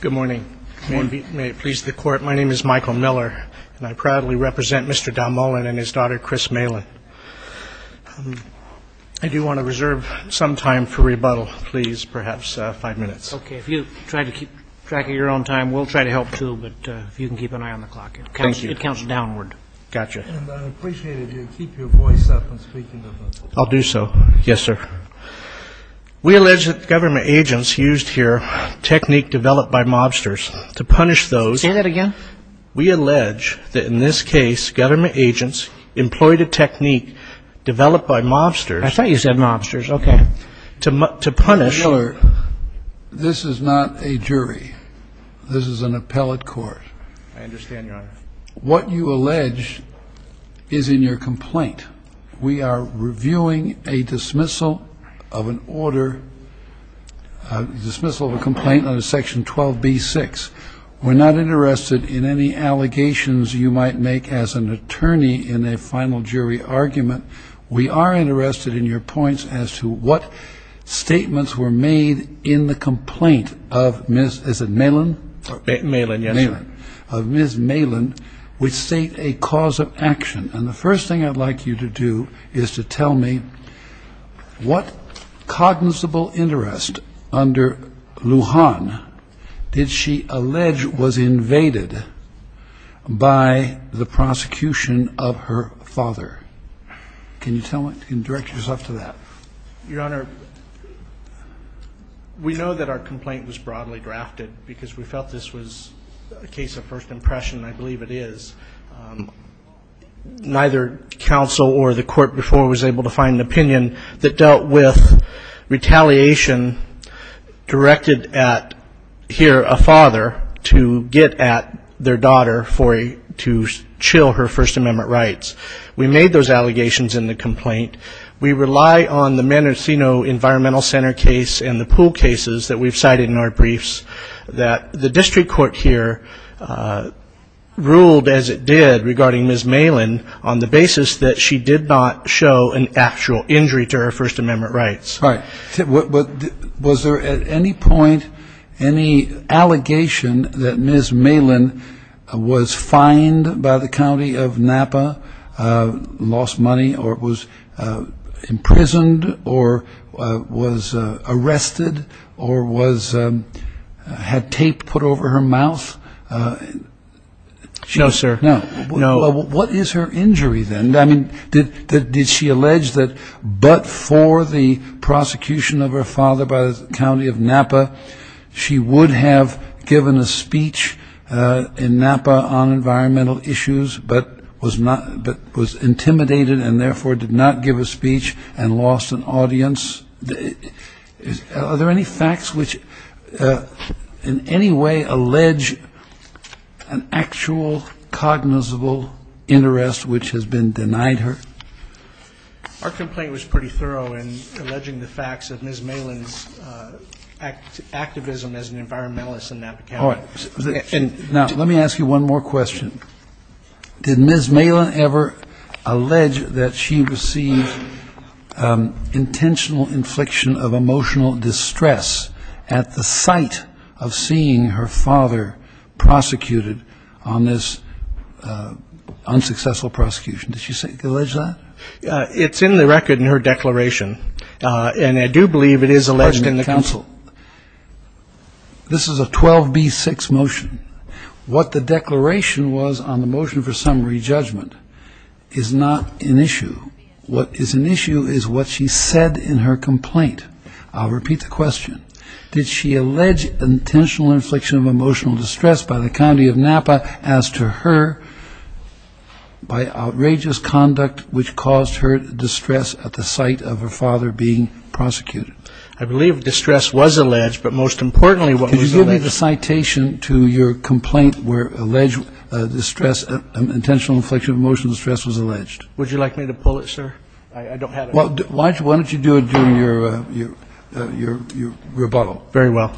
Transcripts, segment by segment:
Good morning. May it please the Court, my name is Michael Miller, and I proudly represent Mr. Don Molin and his daughter, Chris Malin. I do want to reserve some time for rebuttal, please, perhaps five minutes. Okay, if you try to keep track of your own time, we'll try to help too, but if you can keep an eye on the clock. Thank you. It counts downward. Gotcha. And I'd appreciate it if you'd keep your voice up when speaking. I'll do so. Yes, sir. We allege that government agents used here technique developed by mobsters to punish those. Say that again. We allege that in this case government agents employed a technique developed by mobsters. I thought you said mobsters. Okay. To punish. Mr. Miller, this is not a jury. This is an appellate court. I understand, Your Honor. What you allege is in your complaint. We are reviewing a dismissal of an order, a dismissal of a complaint under Section 12b-6. We're not interested in any allegations you might make as an attorney in a final jury argument. We are interested in your points as to what statements were made in the complaint of Miss, is it Malin? Malin, yes. Of Miss Malin, which state a cause of action. And the first thing I'd like you to do is to tell me what cognizable interest under Lujan did she allege was invaded by the prosecution of her father. Can you tell me? Can you direct yourself to that? Your Honor, we know that our complaint was broadly drafted because we felt this was a case of first impression. I believe it is. Neither counsel or the court before was able to find an opinion that dealt with retaliation directed at, here, a father to get at their daughter to chill her First Amendment rights. We made those allegations in the complaint. We rely on the Manicino Environmental Center case and the pool cases that we've cited in our briefs that the district court here ruled, as it did regarding Miss Malin, on the basis that she did not show an actual injury to her First Amendment rights. Right. Was there at any point any allegation that Miss Malin was fined by the county of Napa, lost money, or was imprisoned or was arrested or had tape put over her mouth? No, sir. No. What is her injury then? I mean, did she allege that but for the prosecution of her father by the county of Napa, she would have given a speech in Napa on environmental issues but was intimidated and therefore did not give a speech and lost an audience? Are there any facts which in any way allege an actual cognizable interest which has been denied her? Our complaint was pretty thorough in alleging the facts of Miss Malin's activism as an environmentalist in Napa County. Now, let me ask you one more question. Did Miss Malin ever allege that she received intentional infliction of emotional distress at the sight of seeing her father prosecuted on this unsuccessful prosecution? Did she allege that? It's in the record in her declaration, and I do believe it is alleged in the counsel. This is a 12b-6 motion. What the declaration was on the motion for summary judgment is not an issue. What is an issue is what she said in her complaint. I'll repeat the question. Did she allege intentional infliction of emotional distress by the county of Napa as to her by outrageous conduct which caused her distress at the sight of her father being prosecuted? I believe distress was alleged, but most importantly what was alleged... Give me the citation to your complaint where alleged distress, intentional infliction of emotional distress was alleged. Would you like me to pull it, sir? I don't have it. Why don't you do it during your rebuttal? Very well.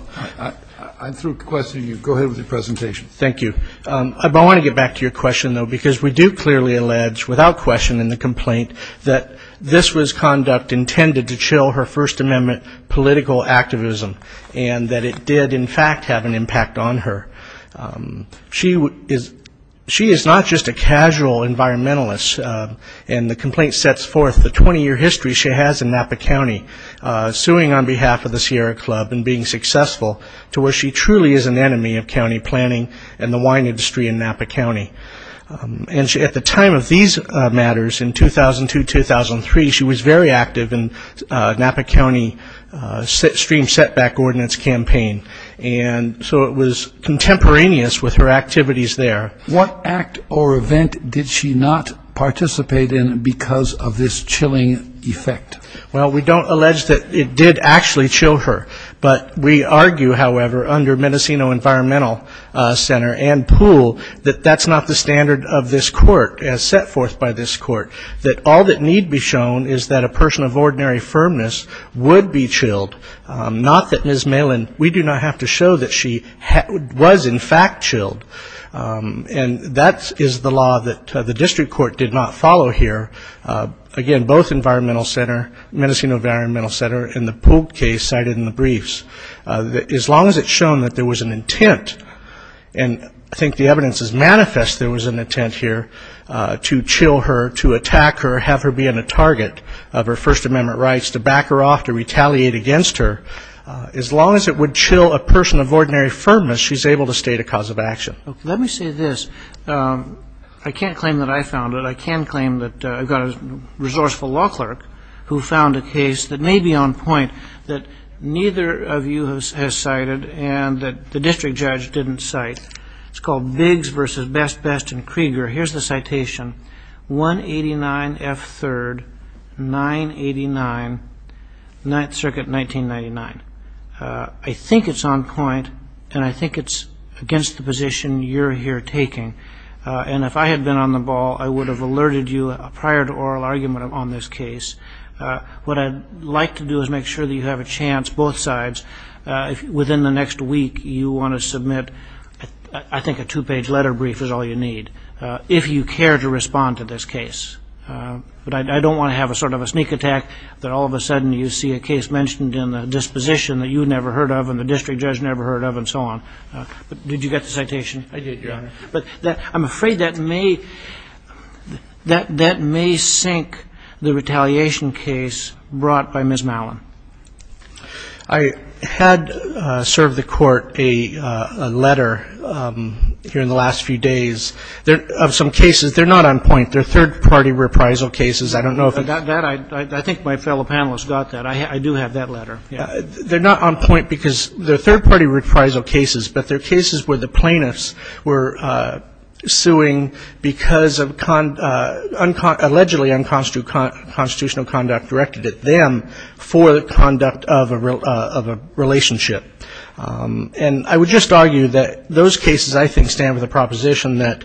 I'm through questioning you. Go ahead with your presentation. Thank you. I want to get back to your question, though, because we do clearly allege without question in the complaint that this was conduct intended to chill her First Amendment political activism and that it did, in fact, have an impact on her. She is not just a casual environmentalist, and the complaint sets forth the 20-year history she has in Napa County, suing on behalf of the Sierra Club and being successful to where she truly is an enemy of county planning and the wine industry in Napa County. And at the time of these matters, in 2002, 2003, she was very active in Napa County stream setback ordinance campaign, and so it was contemporaneous with her activities there. What act or event did she not participate in because of this chilling effect? Well, we don't allege that it did actually chill her, but we argue, however, under Mendocino Environmental Center and POOL that that's not the standard of this court as set forth by this court, that all that need be shown is that a person of ordinary firmness would be chilled, not that Ms. Malin, we do not have to show that she was, in fact, chilled. And that is the law that the district court did not follow here. Again, both Environmental Center, Mendocino Environmental Center, and the POOL case cited in the briefs. As long as it's shown that there was an intent, and I think the evidence is manifest there was an intent here to chill her, to attack her, have her be a target of her First Amendment rights, to back her off, to retaliate against her, as long as it would chill a person of ordinary firmness, she's able to state a cause of action. Let me say this. I can't claim that I found it. I can claim that I got a resourceful law clerk who found a case that may be on point, that neither of you has cited, and that the district judge didn't cite. It's called Biggs v. Best, Best, and Krieger. Here's the citation, 189F3rd, 989, Ninth Circuit, 1999. I think it's on point, and I think it's against the position you're here taking. And if I had been on the ball, I would have alerted you prior to oral argument on this case. What I'd like to do is make sure that you have a chance, both sides, within the next week you want to submit, I think, a two-page letter brief is all you need, if you care to respond to this case. But I don't want to have a sort of a sneak attack that all of a sudden you see a case mentioned in a disposition that you never heard of and the district judge never heard of and so on. I did, Your Honor. But I'm afraid that may sink the retaliation case brought by Ms. Mallon. I had served the court a letter here in the last few days of some cases. They're not on point. They're third-party reprisal cases. I don't know if that – I think my fellow panelists got that. I do have that letter. They're not on point because they're third-party reprisal cases, but they're cases where the plaintiffs were suing because of allegedly unconstitutional conduct directed at them for the conduct of a relationship. And I would just argue that those cases, I think, stand with a proposition that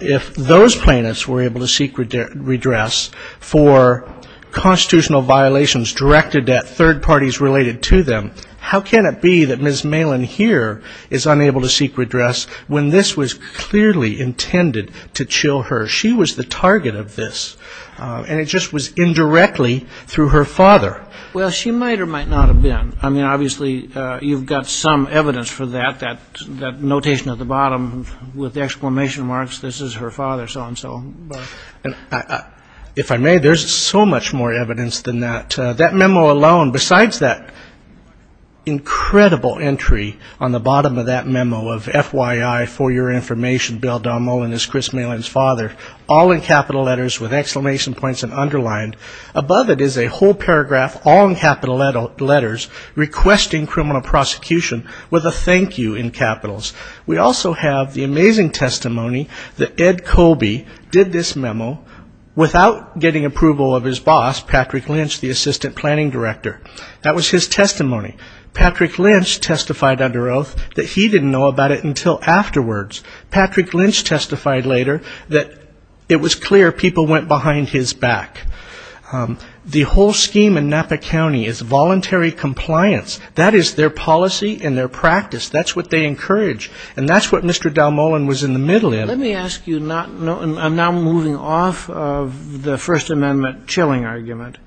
if those plaintiffs were able to seek redress for constitutional violations directed at third parties related to them, how can it be that Ms. Mallon here is unable to seek redress when this was clearly intended to chill her? She was the target of this, and it just was indirectly through her father. Well, she might or might not have been. I mean, obviously, you've got some evidence for that, that notation at the bottom with exclamation marks, this is her father, so-and-so. If I may, there's so much more evidence than that. That memo alone, besides that incredible entry on the bottom of that memo of FYI, for your information, Bill Don Mullen is Chris Malon's father, all in capital letters with exclamation points and underlined. Above it is a whole paragraph, all in capital letters, requesting criminal prosecution with a thank you in capitals. We also have the amazing testimony that Ed Colby did this memo without getting approval of his boss, Patrick Lynch, the assistant planning director. That was his testimony. Patrick Lynch testified under oath that he didn't know about it until afterwards. Patrick Lynch testified later that it was clear people went behind his back. The whole scheme in Napa County is voluntary compliance. That is their policy and their practice. That's what they encourage, and that's what Mr. Don Mullen was in the middle of. Let me ask you, I'm now moving off of the First Amendment chilling argument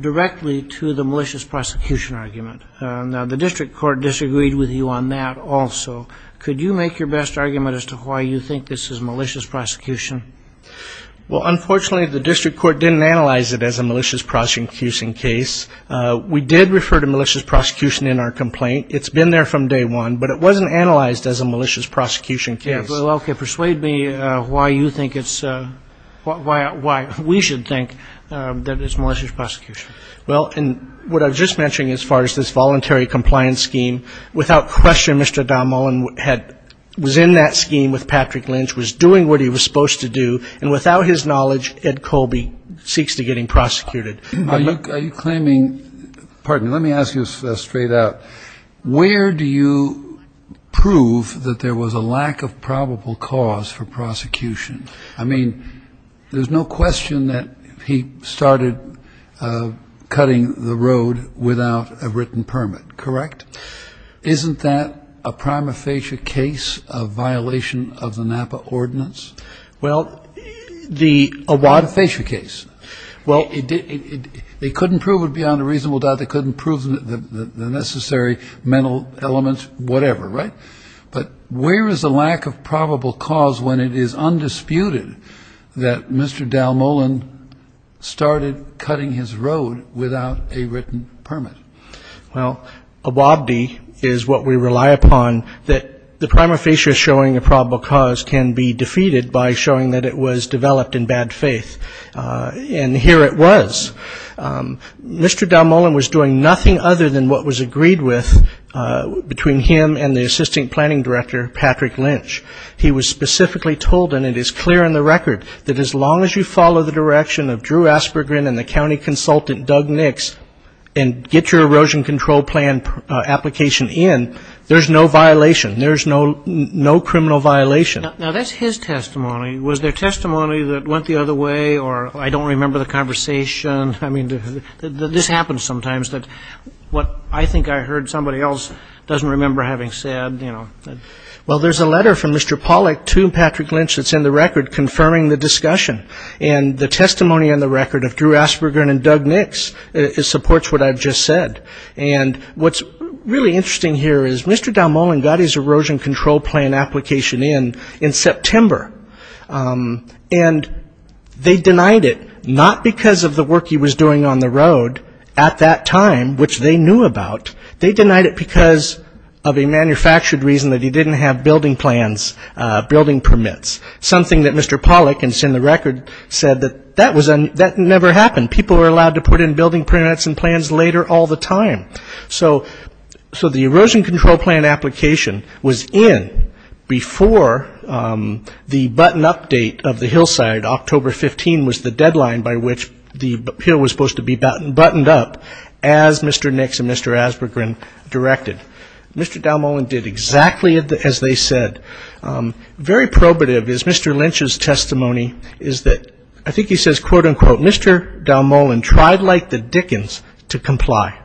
directly to the malicious prosecution argument. Now, the district court disagreed with you on that also. Could you make your best argument as to why you think this is malicious prosecution? Well, unfortunately, the district court didn't analyze it as a malicious prosecution case. We did refer to malicious prosecution in our complaint. It's been there from day one, but it wasn't analyzed as a malicious prosecution case. Okay. Persuade me why you think it's why we should think that it's malicious prosecution. Well, and what I was just mentioning as far as this voluntary compliance scheme, without question, Mr. Don Mullen was in that scheme with Patrick Lynch, was doing what he was supposed to do, and without his knowledge, Ed Colby seeks to get him prosecuted. Are you claiming, pardon me, let me ask you straight out, where do you prove that there was a lack of probable cause for prosecution? I mean, there's no question that he started cutting the road without a written permit, correct? Isn't that a prima facie case of violation of the Napa Ordinance? Well, the Awabdi case. Well, they couldn't prove it beyond a reasonable doubt. They couldn't prove the necessary mental elements, whatever, right? But where is the lack of probable cause when it is undisputed that Mr. Dal Mullen started cutting his road without a written permit? Well, Awabdi is what we rely upon. That the prima facie of showing a probable cause can be defeated by showing that it was developed in bad faith. And here it was. Mr. Dal Mullen was doing nothing other than what was agreed with between him and the assistant planning director, Patrick Lynch. He was specifically told, and it is clear in the record, that as long as you follow the direction of Drew Aspergren and the county consultant, Doug Nix, and get your erosion control plan application in, there's no violation. There's no criminal violation. Now, that's his testimony. Was there testimony that went the other way, or I don't remember the conversation? I mean, this happens sometimes, that what I think I heard somebody else doesn't remember having said, you know. Well, there's a letter from Mr. Pollack to Patrick Lynch that's in the record confirming the discussion. And the testimony in the record of Drew Aspergren and Doug Nix supports what I've just said. And what's really interesting here is Mr. Dal Mullen got his erosion control plan application in in September. And they denied it, not because of the work he was doing on the road at that time, which they knew about. They denied it because of a manufactured reason that he didn't have building plans, building permits, something that Mr. Pollack, and it's in the record, said that that never happened. People were allowed to put in building permits and plans later all the time. So the erosion control plan application was in before the button update of the hillside. October 15 was the deadline by which the hill was supposed to be buttoned up, as Mr. Nix and Mr. Aspergren directed. Mr. Dal Mullen did exactly as they said. Very probative is Mr. Lynch's testimony is that I think he says, quote, unquote, Mr. Dal Mullen tried like the Dickens to comply.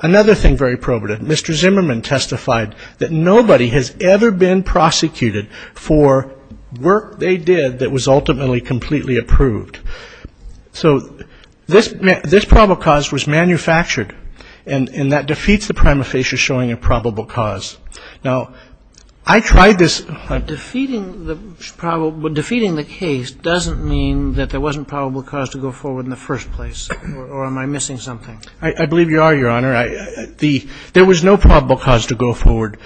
Another thing very probative, Mr. Zimmerman testified that nobody has ever been prosecuted for work they did that was ultimately completely approved. So this probable cause was manufactured, and that defeats the prima facie showing a probable cause. Now, I tried this. Defeating the case doesn't mean that there wasn't probable cause to go forward in the first place, or am I missing something? I believe you are, Your Honor. There was no probable cause to go forward.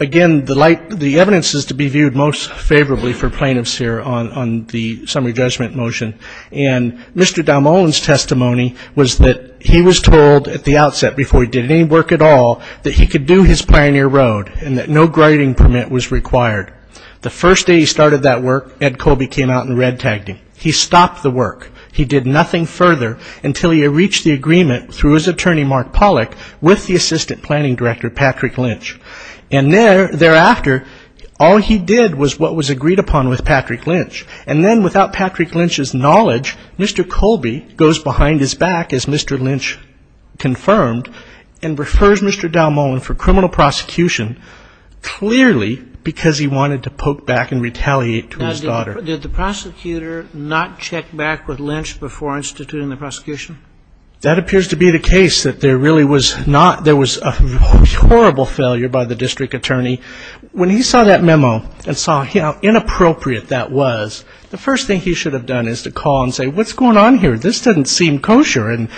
Again, the evidence is to be viewed most favorably for plaintiffs here on the summary judgment motion. And Mr. Dal Mullen's testimony was that he was told at the outset, before he did any work at all, that he could do his pioneer road and that no grading permit was required. The first day he started that work, Ed Colby came out and red-tagged him. He stopped the work. He did nothing further until he reached the agreement through his attorney, Mark Pollack, with the assistant planning director, Patrick Lynch. And thereafter, all he did was what was agreed upon with Patrick Lynch. And then, without Patrick Lynch's knowledge, Mr. Colby goes behind his back, as Mr. Lynch confirmed, and refers Mr. Dal Mullen for criminal prosecution, clearly because he wanted to poke back and retaliate to his daughter. Now, did the prosecutor not check back with Lynch before instituting the prosecution? That appears to be the case, that there really was not ñ there was a horrible failure by the district attorney. When he saw that memo and saw how inappropriate that was, the first thing he should have done is to call and say, what's going on here? This doesn't seem kosher. And,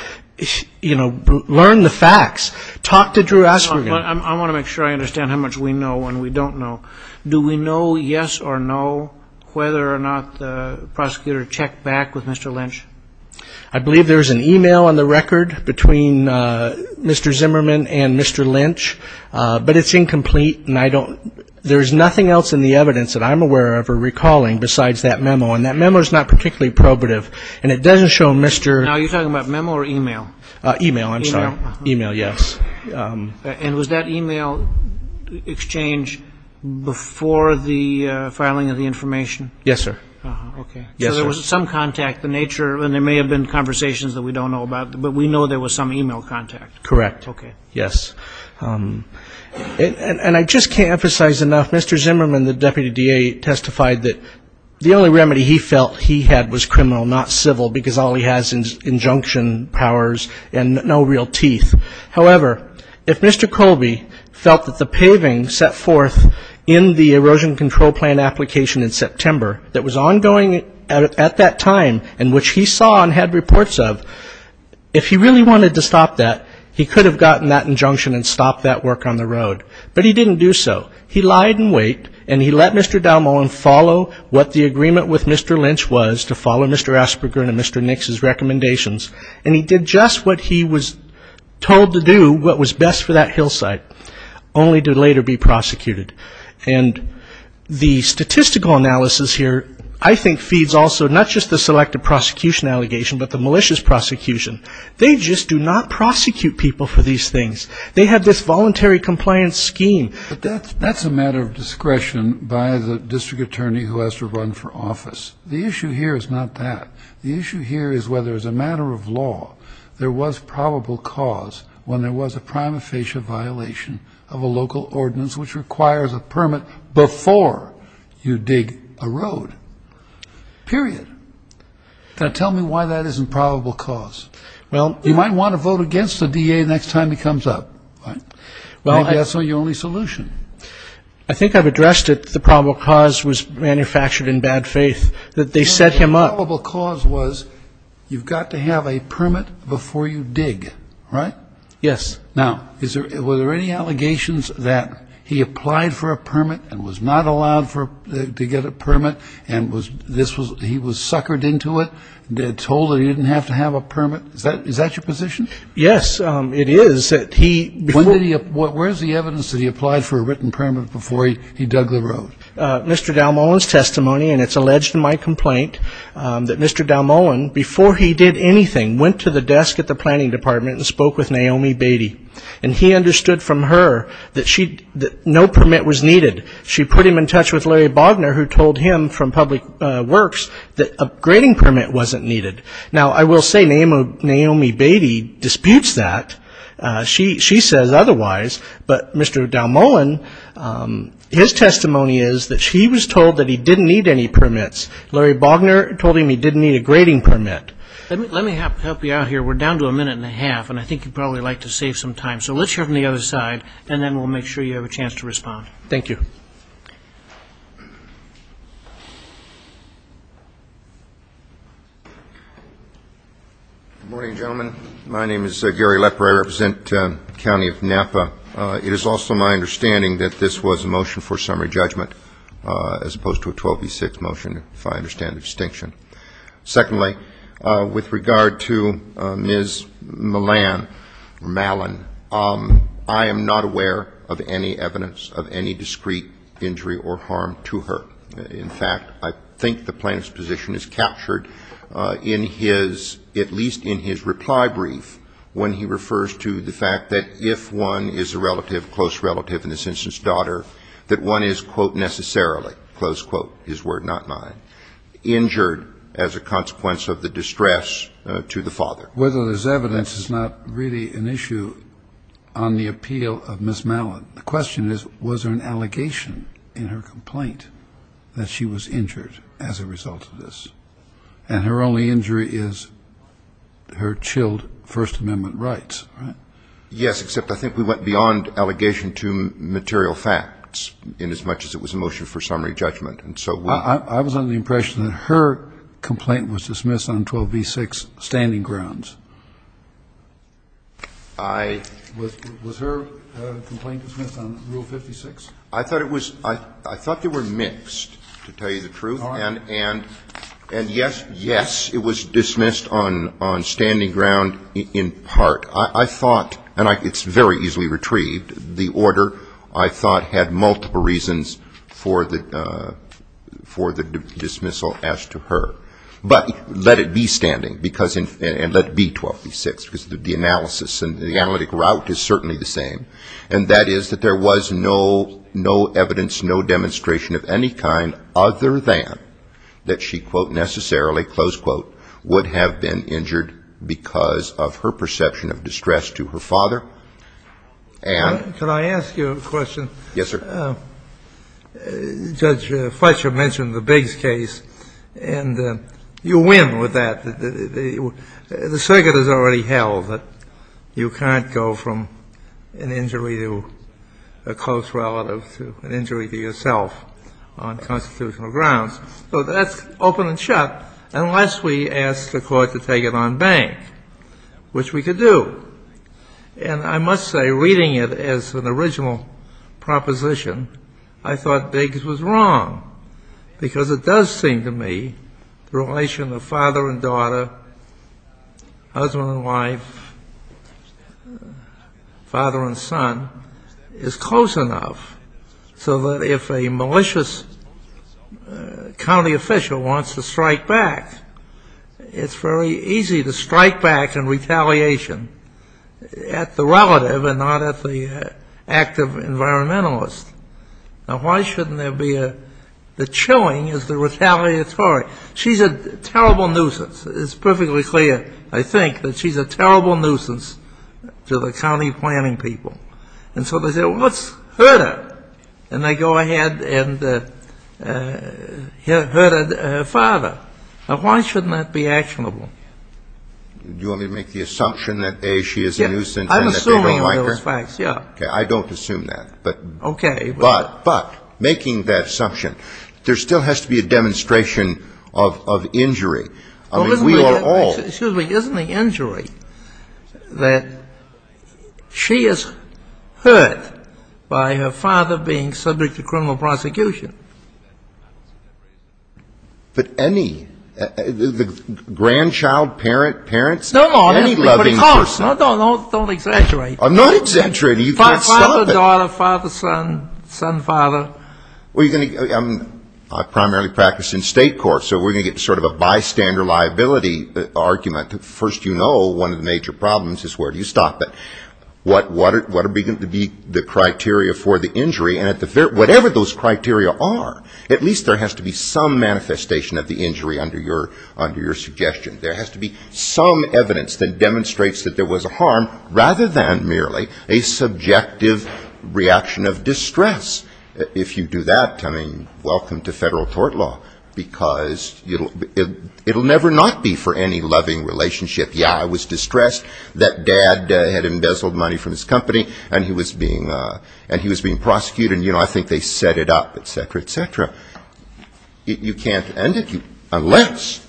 you know, learn the facts. Talk to Drew Asperger. I want to make sure I understand how much we know and we don't know. Do we know, yes or no, whether or not the prosecutor checked back with Mr. Lynch? I believe there is an e-mail on the record between Mr. Zimmerman and Mr. Lynch. But it's incomplete and I don't ñ there's nothing else in the evidence that I'm aware of or recalling besides that memo. And that memo is not particularly probative. And it doesn't show Mr. ñ Now, are you talking about memo or e-mail? E-mail, I'm sorry. E-mail. E-mail, yes. And was that e-mail exchange before the filing of the information? Yes, sir. Okay. Yes, sir. So there was some contact, the nature ñ and there may have been conversations that we don't know about, but we know there was some e-mail contact. Correct. Okay. Yes. And I just can't emphasize enough, Mr. Zimmerman, the deputy DA, testified that the only remedy he felt he had was criminal, not civil, because all he has is injunction powers and no real teeth. However, if Mr. Colby felt that the paving set forth in the erosion control plan application in September that was ongoing at that time and which he saw and had reports of, if he really wanted to stop that, he could have gotten that injunction and stopped that work on the road. But he didn't do so. He lied in wait, and he let Mr. Dalmohan follow what the agreement with Mr. Lynch was to follow Mr. Asperger and Mr. Nix's recommendations. And he did just what he was told to do, what was best for that hillside, only to later be prosecuted. And the statistical analysis here I think feeds also not just the selective prosecution allegation but the malicious prosecution. They just do not prosecute people for these things. They have this voluntary compliance scheme. But that's a matter of discretion by the district attorney who has to run for office. The issue here is not that. The issue here is whether, as a matter of law, there was probable cause when there was a prima facie violation of a local ordinance which requires a permit before you dig a road, period. Now, tell me why that isn't probable cause. Well, you might want to vote against the DA next time he comes up. Maybe that's not your only solution. I think I've addressed it. The probable cause was manufactured in bad faith, that they set him up. The probable cause was you've got to have a permit before you dig, right? Yes. Now, were there any allegations that he applied for a permit and was not allowed to get a permit and he was suckered into it, told that he didn't have to have a permit? Is that your position? Yes, it is. Where is the evidence that he applied for a written permit before he dug the road? Mr. Dalmohan's testimony, and it's alleged in my complaint, that Mr. Dalmohan, before he did anything, went to the desk at the planning department and spoke with Naomi Beatty. And he understood from her that no permit was needed. She put him in touch with Larry Bogner, who told him from Public Works that a grading permit wasn't needed. Now, I will say Naomi Beatty disputes that. She says otherwise. But Mr. Dalmohan, his testimony is that she was told that he didn't need any permits. Larry Bogner told him he didn't need a grading permit. Let me help you out here. We're down to a minute and a half, and I think you'd probably like to save some time. So let's hear from the other side, and then we'll make sure you have a chance to respond. Thank you. Good morning, gentlemen. My name is Gary Lepper. I represent the County of Napa. It is also my understanding that this was a motion for summary judgment as opposed to a 12B6 motion, if I understand the distinction. Secondly, with regard to Ms. Malan, I am not aware of any evidence of any discreet injury or harm to her. In fact, I think the plaintiff's position is captured in his, at least in his reply brief, when he refers to the fact that if one is a relative, close relative, in this instance daughter, that one is, quote, necessarily, close quote, his word, not mine, injured as a consequence of the distress to the father. Whether there's evidence is not really an issue on the appeal of Ms. Malan. The question is, was there an allegation in her complaint that she was injured as a result of this? And her only injury is her chilled First Amendment rights, right? Yes, except I think we went beyond allegation to material facts inasmuch as it was a motion for summary judgment. And so we ---- I was under the impression that her complaint was dismissed on 12B6 standing grounds. I ---- Was her complaint dismissed on Rule 56? I thought it was ---- I thought they were mixed, to tell you the truth. All right. And yes, yes, it was dismissed on standing ground in part. I thought, and it's very easily retrieved, the order, I thought, had multiple reasons for the dismissal as to her. But let it be standing, and let it be 12B6, because the analysis and the analytic route is certainly the same, and that is that there was no evidence, no demonstration of any kind other than that she, quote, necessarily, close quote, would have been injured because of her perception of distress to her father. And ---- Could I ask you a question? Yes, sir. Judge Fletcher mentioned the Biggs case, and you win with that. The circuit has already held that you can't go from an injury to a close relative to an injury to yourself on constitutional grounds. So that's open and shut unless we ask the Court to take it on bank, which we could do. And I must say, reading it as an original proposition, I thought Biggs was wrong, because it does seem to me the relation of father and daughter, husband and wife, father and son is close enough so that if a malicious county official wants to strike back, it's very easy to strike back in retaliation at the relative and not at the active environmentalist. Now, why shouldn't there be a ---- the chilling is the retaliatory. She's a terrible nuisance. It's perfectly clear, I think, that she's a terrible nuisance to the county planning people. And so they say, well, let's hurt her. And they go ahead and hurt her father. Now, why shouldn't that be actionable? Do you want me to make the assumption that, A, she is a nuisance and that they don't like her? I'm assuming those facts, yes. Okay. I don't assume that. Okay. But making that assumption, there still has to be a demonstration of injury. I mean, we are all ---- Excuse me. Isn't the injury that she is hurt by her father being subject to criminal prosecution? But any, the grandchild, parent, parents, any loving person ---- No, no. Don't exaggerate. I'm not exaggerating. You can't stop it. Father, daughter, father, son, son, father. I primarily practice in state courts, so we're going to get to sort of a bystander liability argument. First, you know one of the major problems is where do you stop it. What are going to be the criteria for the injury? And whatever those criteria are, at least there has to be some manifestation of the injury under your suggestion. There has to be some evidence that demonstrates that there was a harm rather than merely a subjective reaction of distress. If you do that, I mean, welcome to federal court law, because it will never not be for any loving relationship. Yeah, I was distressed that dad had embezzled money from his company, and he was being prosecuted. And, you know, I think they set it up, et cetera, et cetera. You can't end it unless,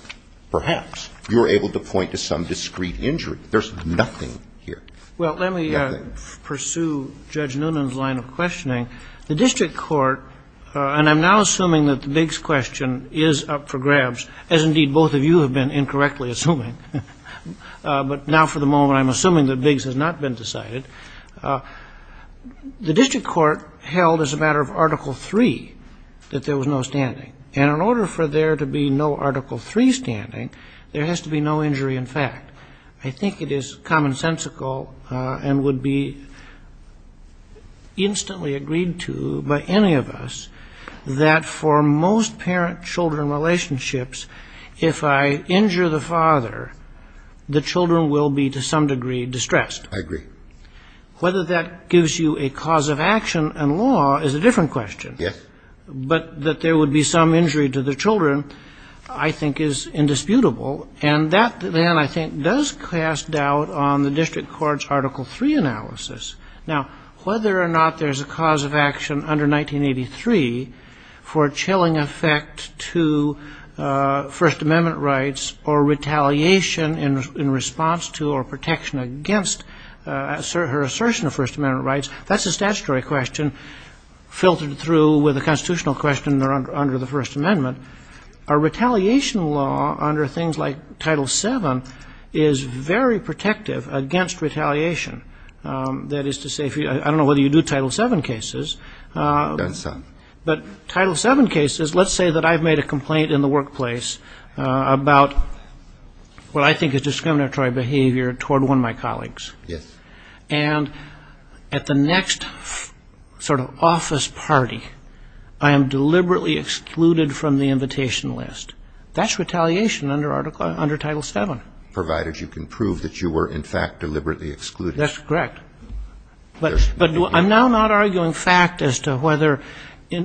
perhaps, you're able to point to some discrete injury. There's nothing here. Nothing. Well, let me pursue Judge Noonan's line of questioning. The district court, and I'm now assuming that the Biggs question is up for grabs, as indeed both of you have been incorrectly assuming. But now for the moment, I'm assuming that Biggs has not been decided. The district court held as a matter of Article III that there was no standing. And in order for there to be no Article III standing, there has to be no injury in fact. I think it is commonsensical and would be instantly agreed to by any of us that for most parent-children relationships, if I injure the father, the children will be to some degree distressed. I agree. Whether that gives you a cause of action in law is a different question. Yes. But that there would be some injury to the children, I think, is indisputable. And that, then, I think, does cast doubt on the district court's Article III analysis. Now, whether or not there's a cause of action under 1983 for a chilling effect to First Amendment rights or retaliation in response to or protection against her assertion of First Amendment rights, that's a statutory question filtered through with a constitutional question under the First Amendment. A retaliation law under things like Title VII is very protective against retaliation. That is to say, I don't know whether you do Title VII cases. I've done some. But Title VII cases, let's say that I've made a complaint in the workplace about what I think is discriminatory behavior toward one of my colleagues. Yes. And at the next sort of office party, I am deliberately excluded from the invitation list. That's retaliation under Title VII. Provided you can prove that you were, in fact, deliberately excluded. That's correct. But I'm now not arguing fact as to whether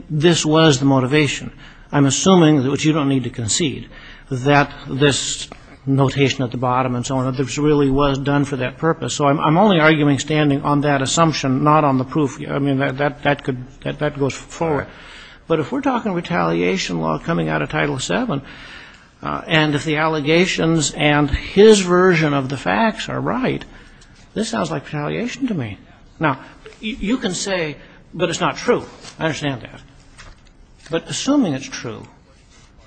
this was the motivation. I'm assuming, which you don't need to concede, that this notation at the bottom and so on, this really was done for that purpose. So I'm only arguing standing on that assumption, not on the proof. I mean, that could go forward. But if we're talking retaliation law coming out of Title VII, and if the allegations and his version of the facts are right, this sounds like retaliation to me. Now, you can say, but it's not true. I understand that. But assuming it's true,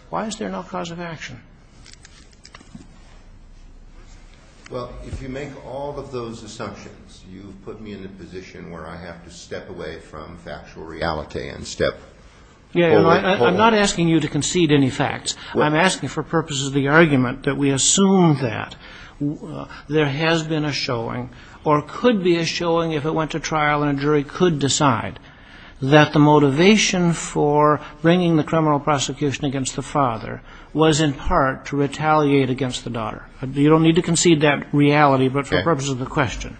why is there no cause of action? Well, if you make all of those assumptions, you put me in a position where I have to step away from factual reality and step forward. Yeah. I'm not asking you to concede any facts. I'm asking for purposes of the argument that we assume that there has been a showing or could be a showing if it went to trial and a jury could decide that the motivation for bringing the criminal prosecution against the father was in part to retaliate against the daughter. You don't need to concede that reality, but for purposes of the question.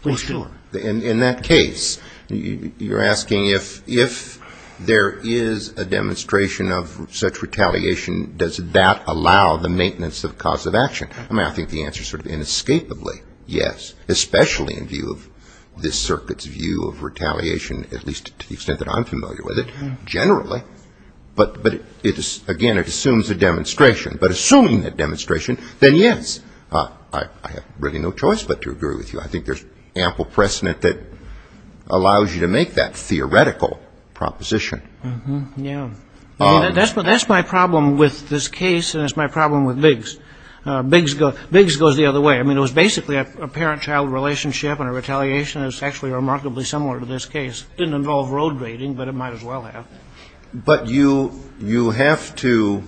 Okay. Well, sure. In that case, you're asking if there is a demonstration of such retaliation, does that allow the maintenance of cause of action? I mean, I think the answer is sort of inescapably yes, especially in view of this generally. But, again, it assumes a demonstration. But assuming that demonstration, then yes. I have really no choice but to agree with you. I think there's ample precedent that allows you to make that theoretical proposition. Yeah. That's my problem with this case and it's my problem with Biggs. Biggs goes the other way. I mean, it was basically a parent-child relationship and a retaliation. It was actually remarkably similar to this case. It didn't involve road raiding, but it might as well have. But you have to,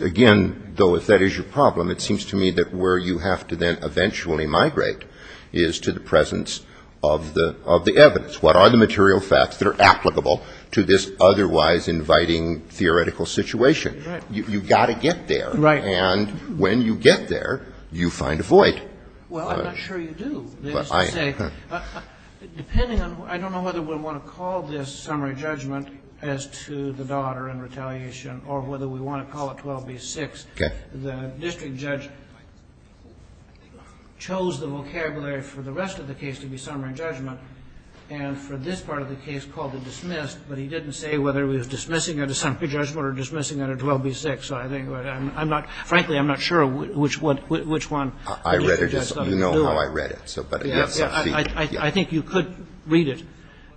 again, though if that is your problem, it seems to me that where you have to then eventually migrate is to the presence of the evidence. What are the material facts that are applicable to this otherwise inviting theoretical situation? Right. You've got to get there. Right. And when you get there, you find a void. Well, I'm not sure you do. They used to say, depending on, I don't know whether we want to call this summary judgment as to the daughter and retaliation or whether we want to call it 12B-6. Okay. The district judge chose the vocabulary for the rest of the case to be summary judgment and for this part of the case called it dismissed, but he didn't say whether he was dismissing it as summary judgment or dismissing it as 12B-6. So I think I'm not, frankly, I'm not sure which one the district judge thought of. I'm not sure how I read it. I think you could read it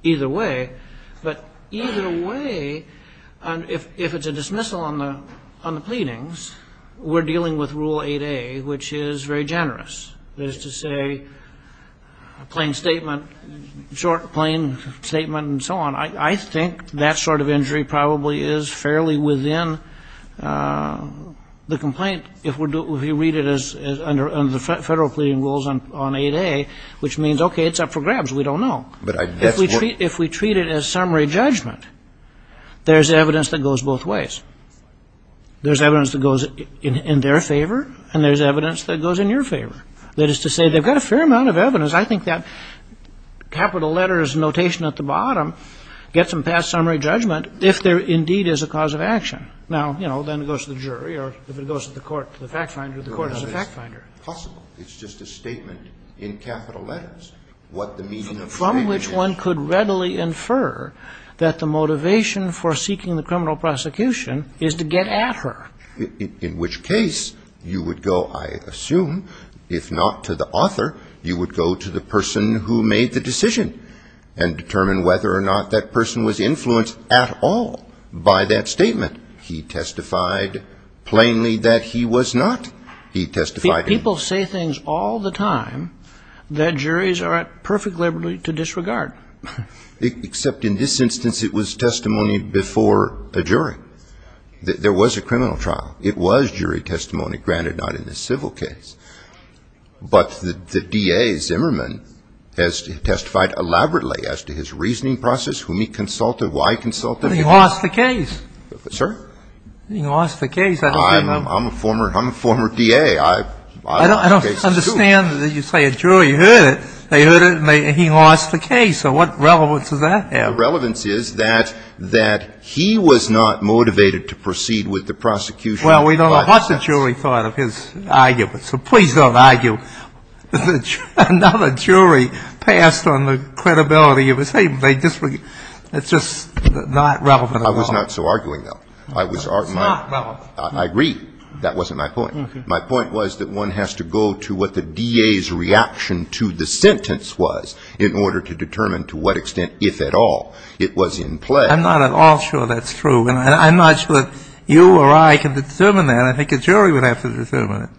either way. But either way, if it's a dismissal on the pleadings, we're dealing with Rule 8A, which is very generous. That is to say, plain statement, short, plain statement and so on. I think that sort of injury probably is fairly within the complaint if you read it as under the federal pleading rules on 8A, which means, okay, it's up for grabs. We don't know. If we treat it as summary judgment, there's evidence that goes both ways. There's evidence that goes in their favor and there's evidence that goes in your favor. That is to say, they've got a fair amount of evidence. I think that capital letters notation at the bottom gets them past summary judgment if there indeed is a cause of action. Now, you know, then it goes to the jury or if it goes to the court, to the fact finder, the court is a fact finder. It's possible. It's just a statement in capital letters what the meaning of summary is. From which one could readily infer that the motivation for seeking the criminal prosecution is to get at her. In which case, you would go, I assume, if not to the author, you would go to the person who made the decision and determine whether or not that person was influenced at all by that statement. He testified plainly that he was not. He testified. People say things all the time that juries are at perfect liberty to disregard. Except in this instance, it was testimony before a jury. There was a criminal trial. It was jury testimony. Granted, not in this civil case. But the DA, Zimmerman, has testified elaborately as to his reasoning process. He has testified. I don't know what the case is. Who he consulted, why he consulted. He lost the case. Sir? He lost the case. I'm a former DA. I don't understand. You say a jury heard it, they heard it and he lost the case. What relevance does that have? The relevance is that he was not motivated to proceed with the prosecution Well, we don't know what the jury thought of his argument, so please don't argue. Another jury passed on the credibility of his statement. It's just not relevant at all. I was not so arguing, though. It's not relevant. I agree. That wasn't my point. My point was that one has to go to what the DA's reaction to the sentence was in order to determine to what extent, if at all, it was in play. I'm not at all sure that's true. And I'm not sure that you or I can determine that. I think a jury would have to determine it.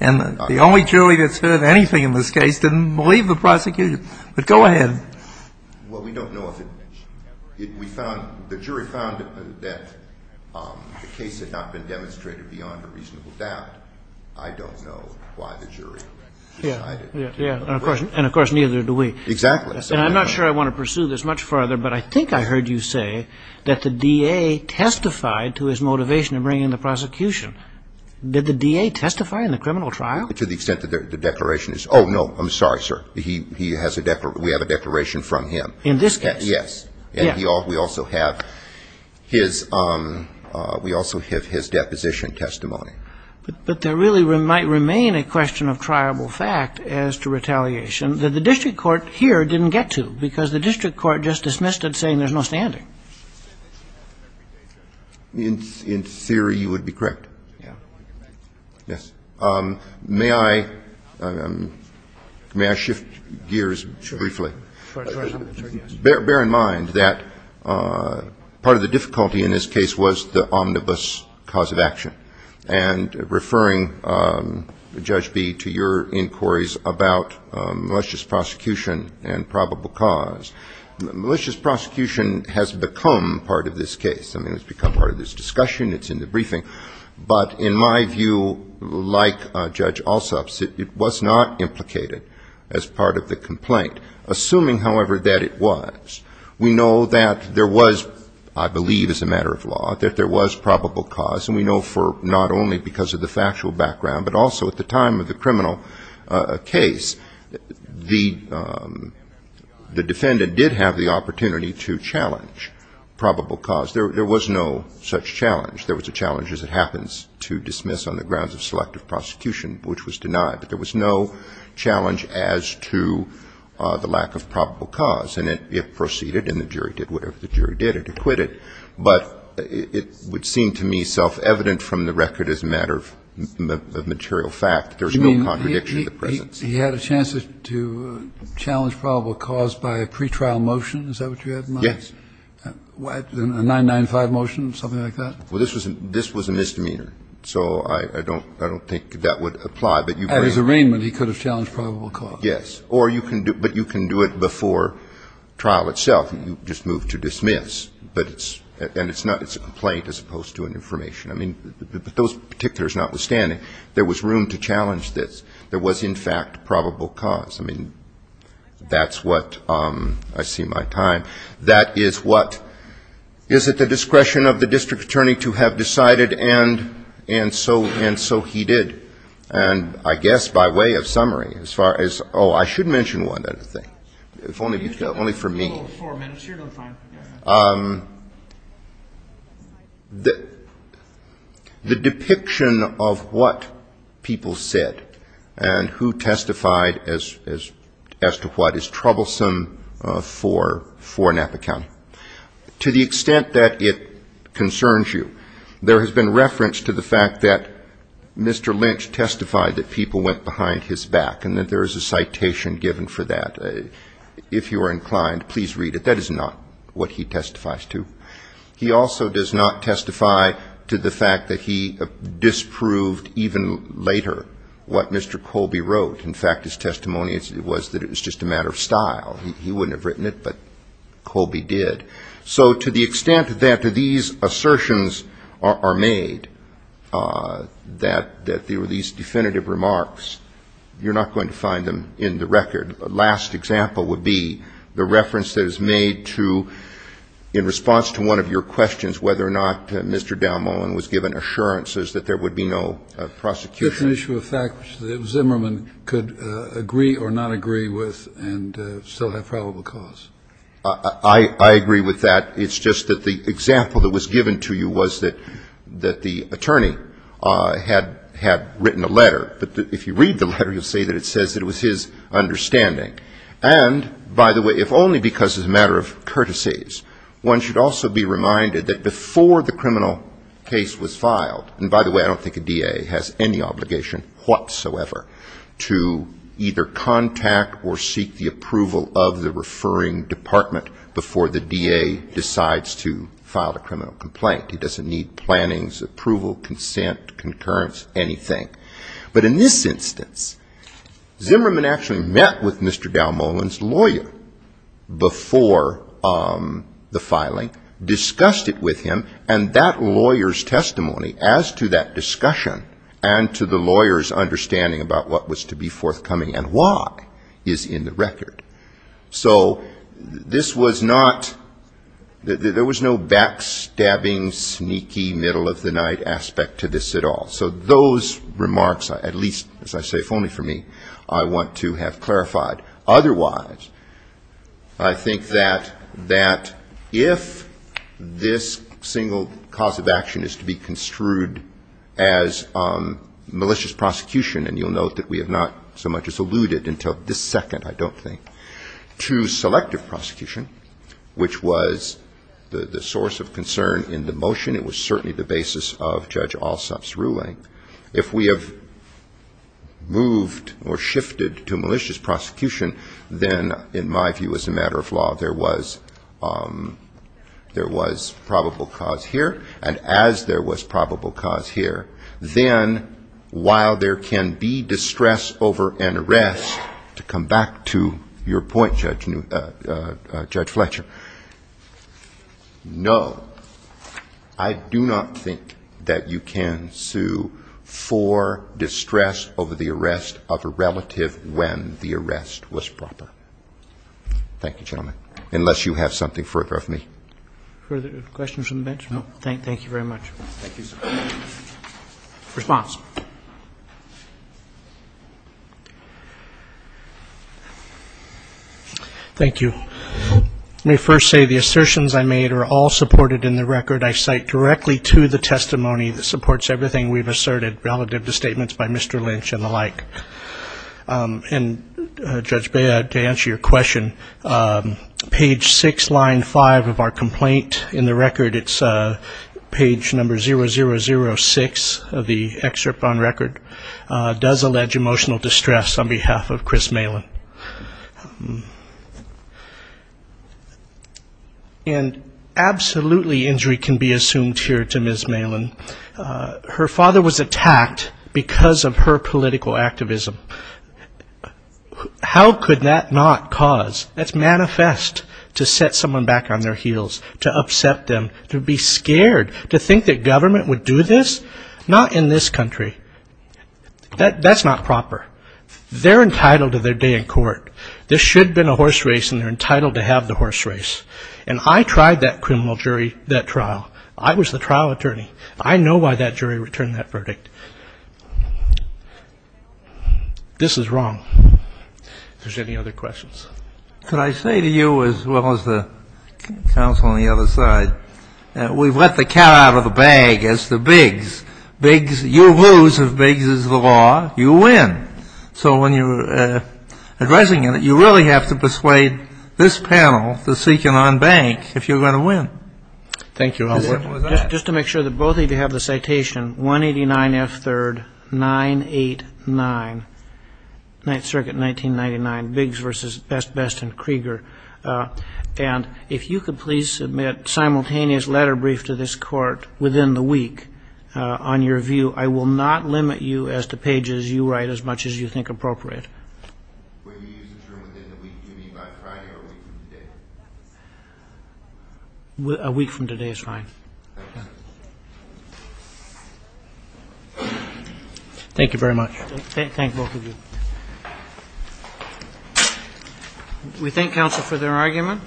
And the only jury that's heard anything in this case didn't believe the prosecution. But go ahead. Well, we don't know if it we found the jury found that the case had not been demonstrated beyond a reasonable doubt. I don't know why the jury decided. Yeah. And, of course, neither do we. Exactly. And I'm not sure I want to pursue this much further, but I think I heard you say that the DA testified to his motivation of bringing the prosecution. Did the DA testify in the criminal trial? To the extent that the declaration is ‑‑ oh, no, I'm sorry, sir. He has a ‑‑ we have a declaration from him. In this case? Yes. Yeah. And we also have his ‑‑ we also have his deposition testimony. But there really might remain a question of triable fact as to retaliation that the district court here didn't get to because the district court just dismissed it saying there's no standing. In theory, you would be correct. Yeah. Yes. May I shift gears briefly? Sure. Bear in mind that part of the difficulty in this case was the omnibus cause of action. And referring, Judge Bee, to your inquiries about malicious prosecution and probable cause, malicious prosecution has become part of this case. I mean, it's become part of this discussion. It's in the briefing. But in my view, like Judge Alsop's, it was not implicated as part of the complaint, assuming, however, that it was. We know that there was, I believe as a matter of law, that there was probable cause. And we know for not only because of the factual background, but also at the time of the criminal case, the defendant did have the opportunity to challenge probable cause. There was no such challenge. There was a challenge as it happens to dismiss on the grounds of selective prosecution, which was denied. But there was no challenge as to the lack of probable cause. And it proceeded, and the jury did whatever the jury did. It acquitted. But it would seem to me self-evident from the record as a matter of material fact. There's no contradiction in the presence. He had a chance to challenge probable cause by a pretrial motion. Is that what you had in mind? Yes. A 995 motion, something like that? Well, this was a misdemeanor. So I don't think that would apply. But you can't. At his arraignment, he could have challenged probable cause. Yes. But you can do it before trial itself. You just move to dismiss. But it's a complaint as opposed to an information. I mean, but those particulars notwithstanding, there was room to challenge this. There was, in fact, probable cause. I mean, that's what I see my time. That is what is at the discretion of the district attorney to have decided, and so he did. And I guess by way of summary, as far as oh, I should mention one other thing. If only for me. Oh, four minutes. You're doing fine. The depiction of what people said and who testified as to what is troublesome for Napa County, to the extent that it concerns you, there has been reference to the fact that Mr. Lynch testified that people went behind his back and that there is a citation given for that. If you are inclined, please read it. That is not what he testifies to. He also does not testify to the fact that he disproved even later what Mr. Colby wrote. In fact, his testimony was that it was just a matter of style. He wouldn't have written it, but Colby did. So to the extent that these assertions are made, that these definitive remarks, you're not going to find them in the record. The last example would be the reference that is made to, in response to one of your questions, whether or not Mr. Dalmohan was given assurances that there would be no prosecution. It's an issue of fact that Zimmerman could agree or not agree with and still have probable cause. I agree with that. It's just that the example that was given to you was that the attorney had written a letter. But if you read the letter, you'll see that it says that it was his understanding. And, by the way, if only because it's a matter of courtesies, one should also be reminded that before the criminal case was filed, and by the way, I don't think a DA has any obligation whatsoever to either contact or seek the approval of the referring department before the DA decides to file a criminal complaint. He doesn't need plannings, approval, consent, concurrence, anything. But in this instance, Zimmerman actually met with Mr. Dalmohan's lawyer before the filing, discussed it with him, and that lawyer's testimony as to that discussion and to the lawyer's understanding about what was to be forthcoming and why is in the record. So this was not, there was no backstabbing, sneaky, middle-of-the-night aspect to this at all. So those remarks, at least, as I say, if only for me, I want to have clarified. Otherwise, I think that that if this single cause of action is to be construed as malicious prosecution, and you'll note that we have not so much as alluded until this second, I don't think, to selective prosecution, which was the source of concern in the motion. It was certainly the basis of Judge Alsop's ruling. If we have moved or shifted to malicious prosecution, then, in my view, as a matter of law, there was probable cause here. And as there was probable cause here, then while there can be distress over an arrest, to come back to your point, Judge Fletcher, no, I do not think that you can sue for distress over the arrest of a relative when the arrest was proper. Thank you, gentlemen, unless you have something further of me. Further questions from the bench? No. Thank you very much. Thank you, sir. Response. Thank you. Let me first say the assertions I made are all supported in the record. I cite directly to the testimony that supports everything we've asserted relative to statements by Mr. Lynch and the like. And, Judge Bea, to answer your question, page 6, line 5 of our complaint in the record, it's page number 0006 of the excerpt on record, does allege emotional distress on behalf of Chris Malin. And absolutely injury can be assumed here to Ms. Malin. Her father was attacked because of her political activism. How could that not cause, that's manifest, to set someone back on their heels, to upset them, to be scared, to think that government would do this? Not in this country. That's not proper. They're entitled to their day in court. This should have been a horse race, and they're entitled to have the horse race. And I tried that criminal jury, that trial. I was the trial attorney. I know why that jury returned that verdict. This is wrong. If there's any other questions. Could I say to you, as well as the counsel on the other side, we've let the cat out of the bag as to Biggs. Biggs, you lose if Biggs is the law. You win. So when you're addressing it, you really have to persuade this panel, the Sequinon Bank, if you're going to win. Thank you, Albert. Just to make sure that both of you have the citation, 189 F. 3rd. 989. Ninth Circuit, 1999. Biggs versus Best Best and Krieger. And if you could please submit simultaneous letter brief to this court within the week, on your view, I will not limit you as to pages you write as much as you think appropriate. Will you use this room within the week? Do you mean by Friday or a week from today? A week from today is fine. Thank you very much. Thank both of you. We thank counsel for their argument.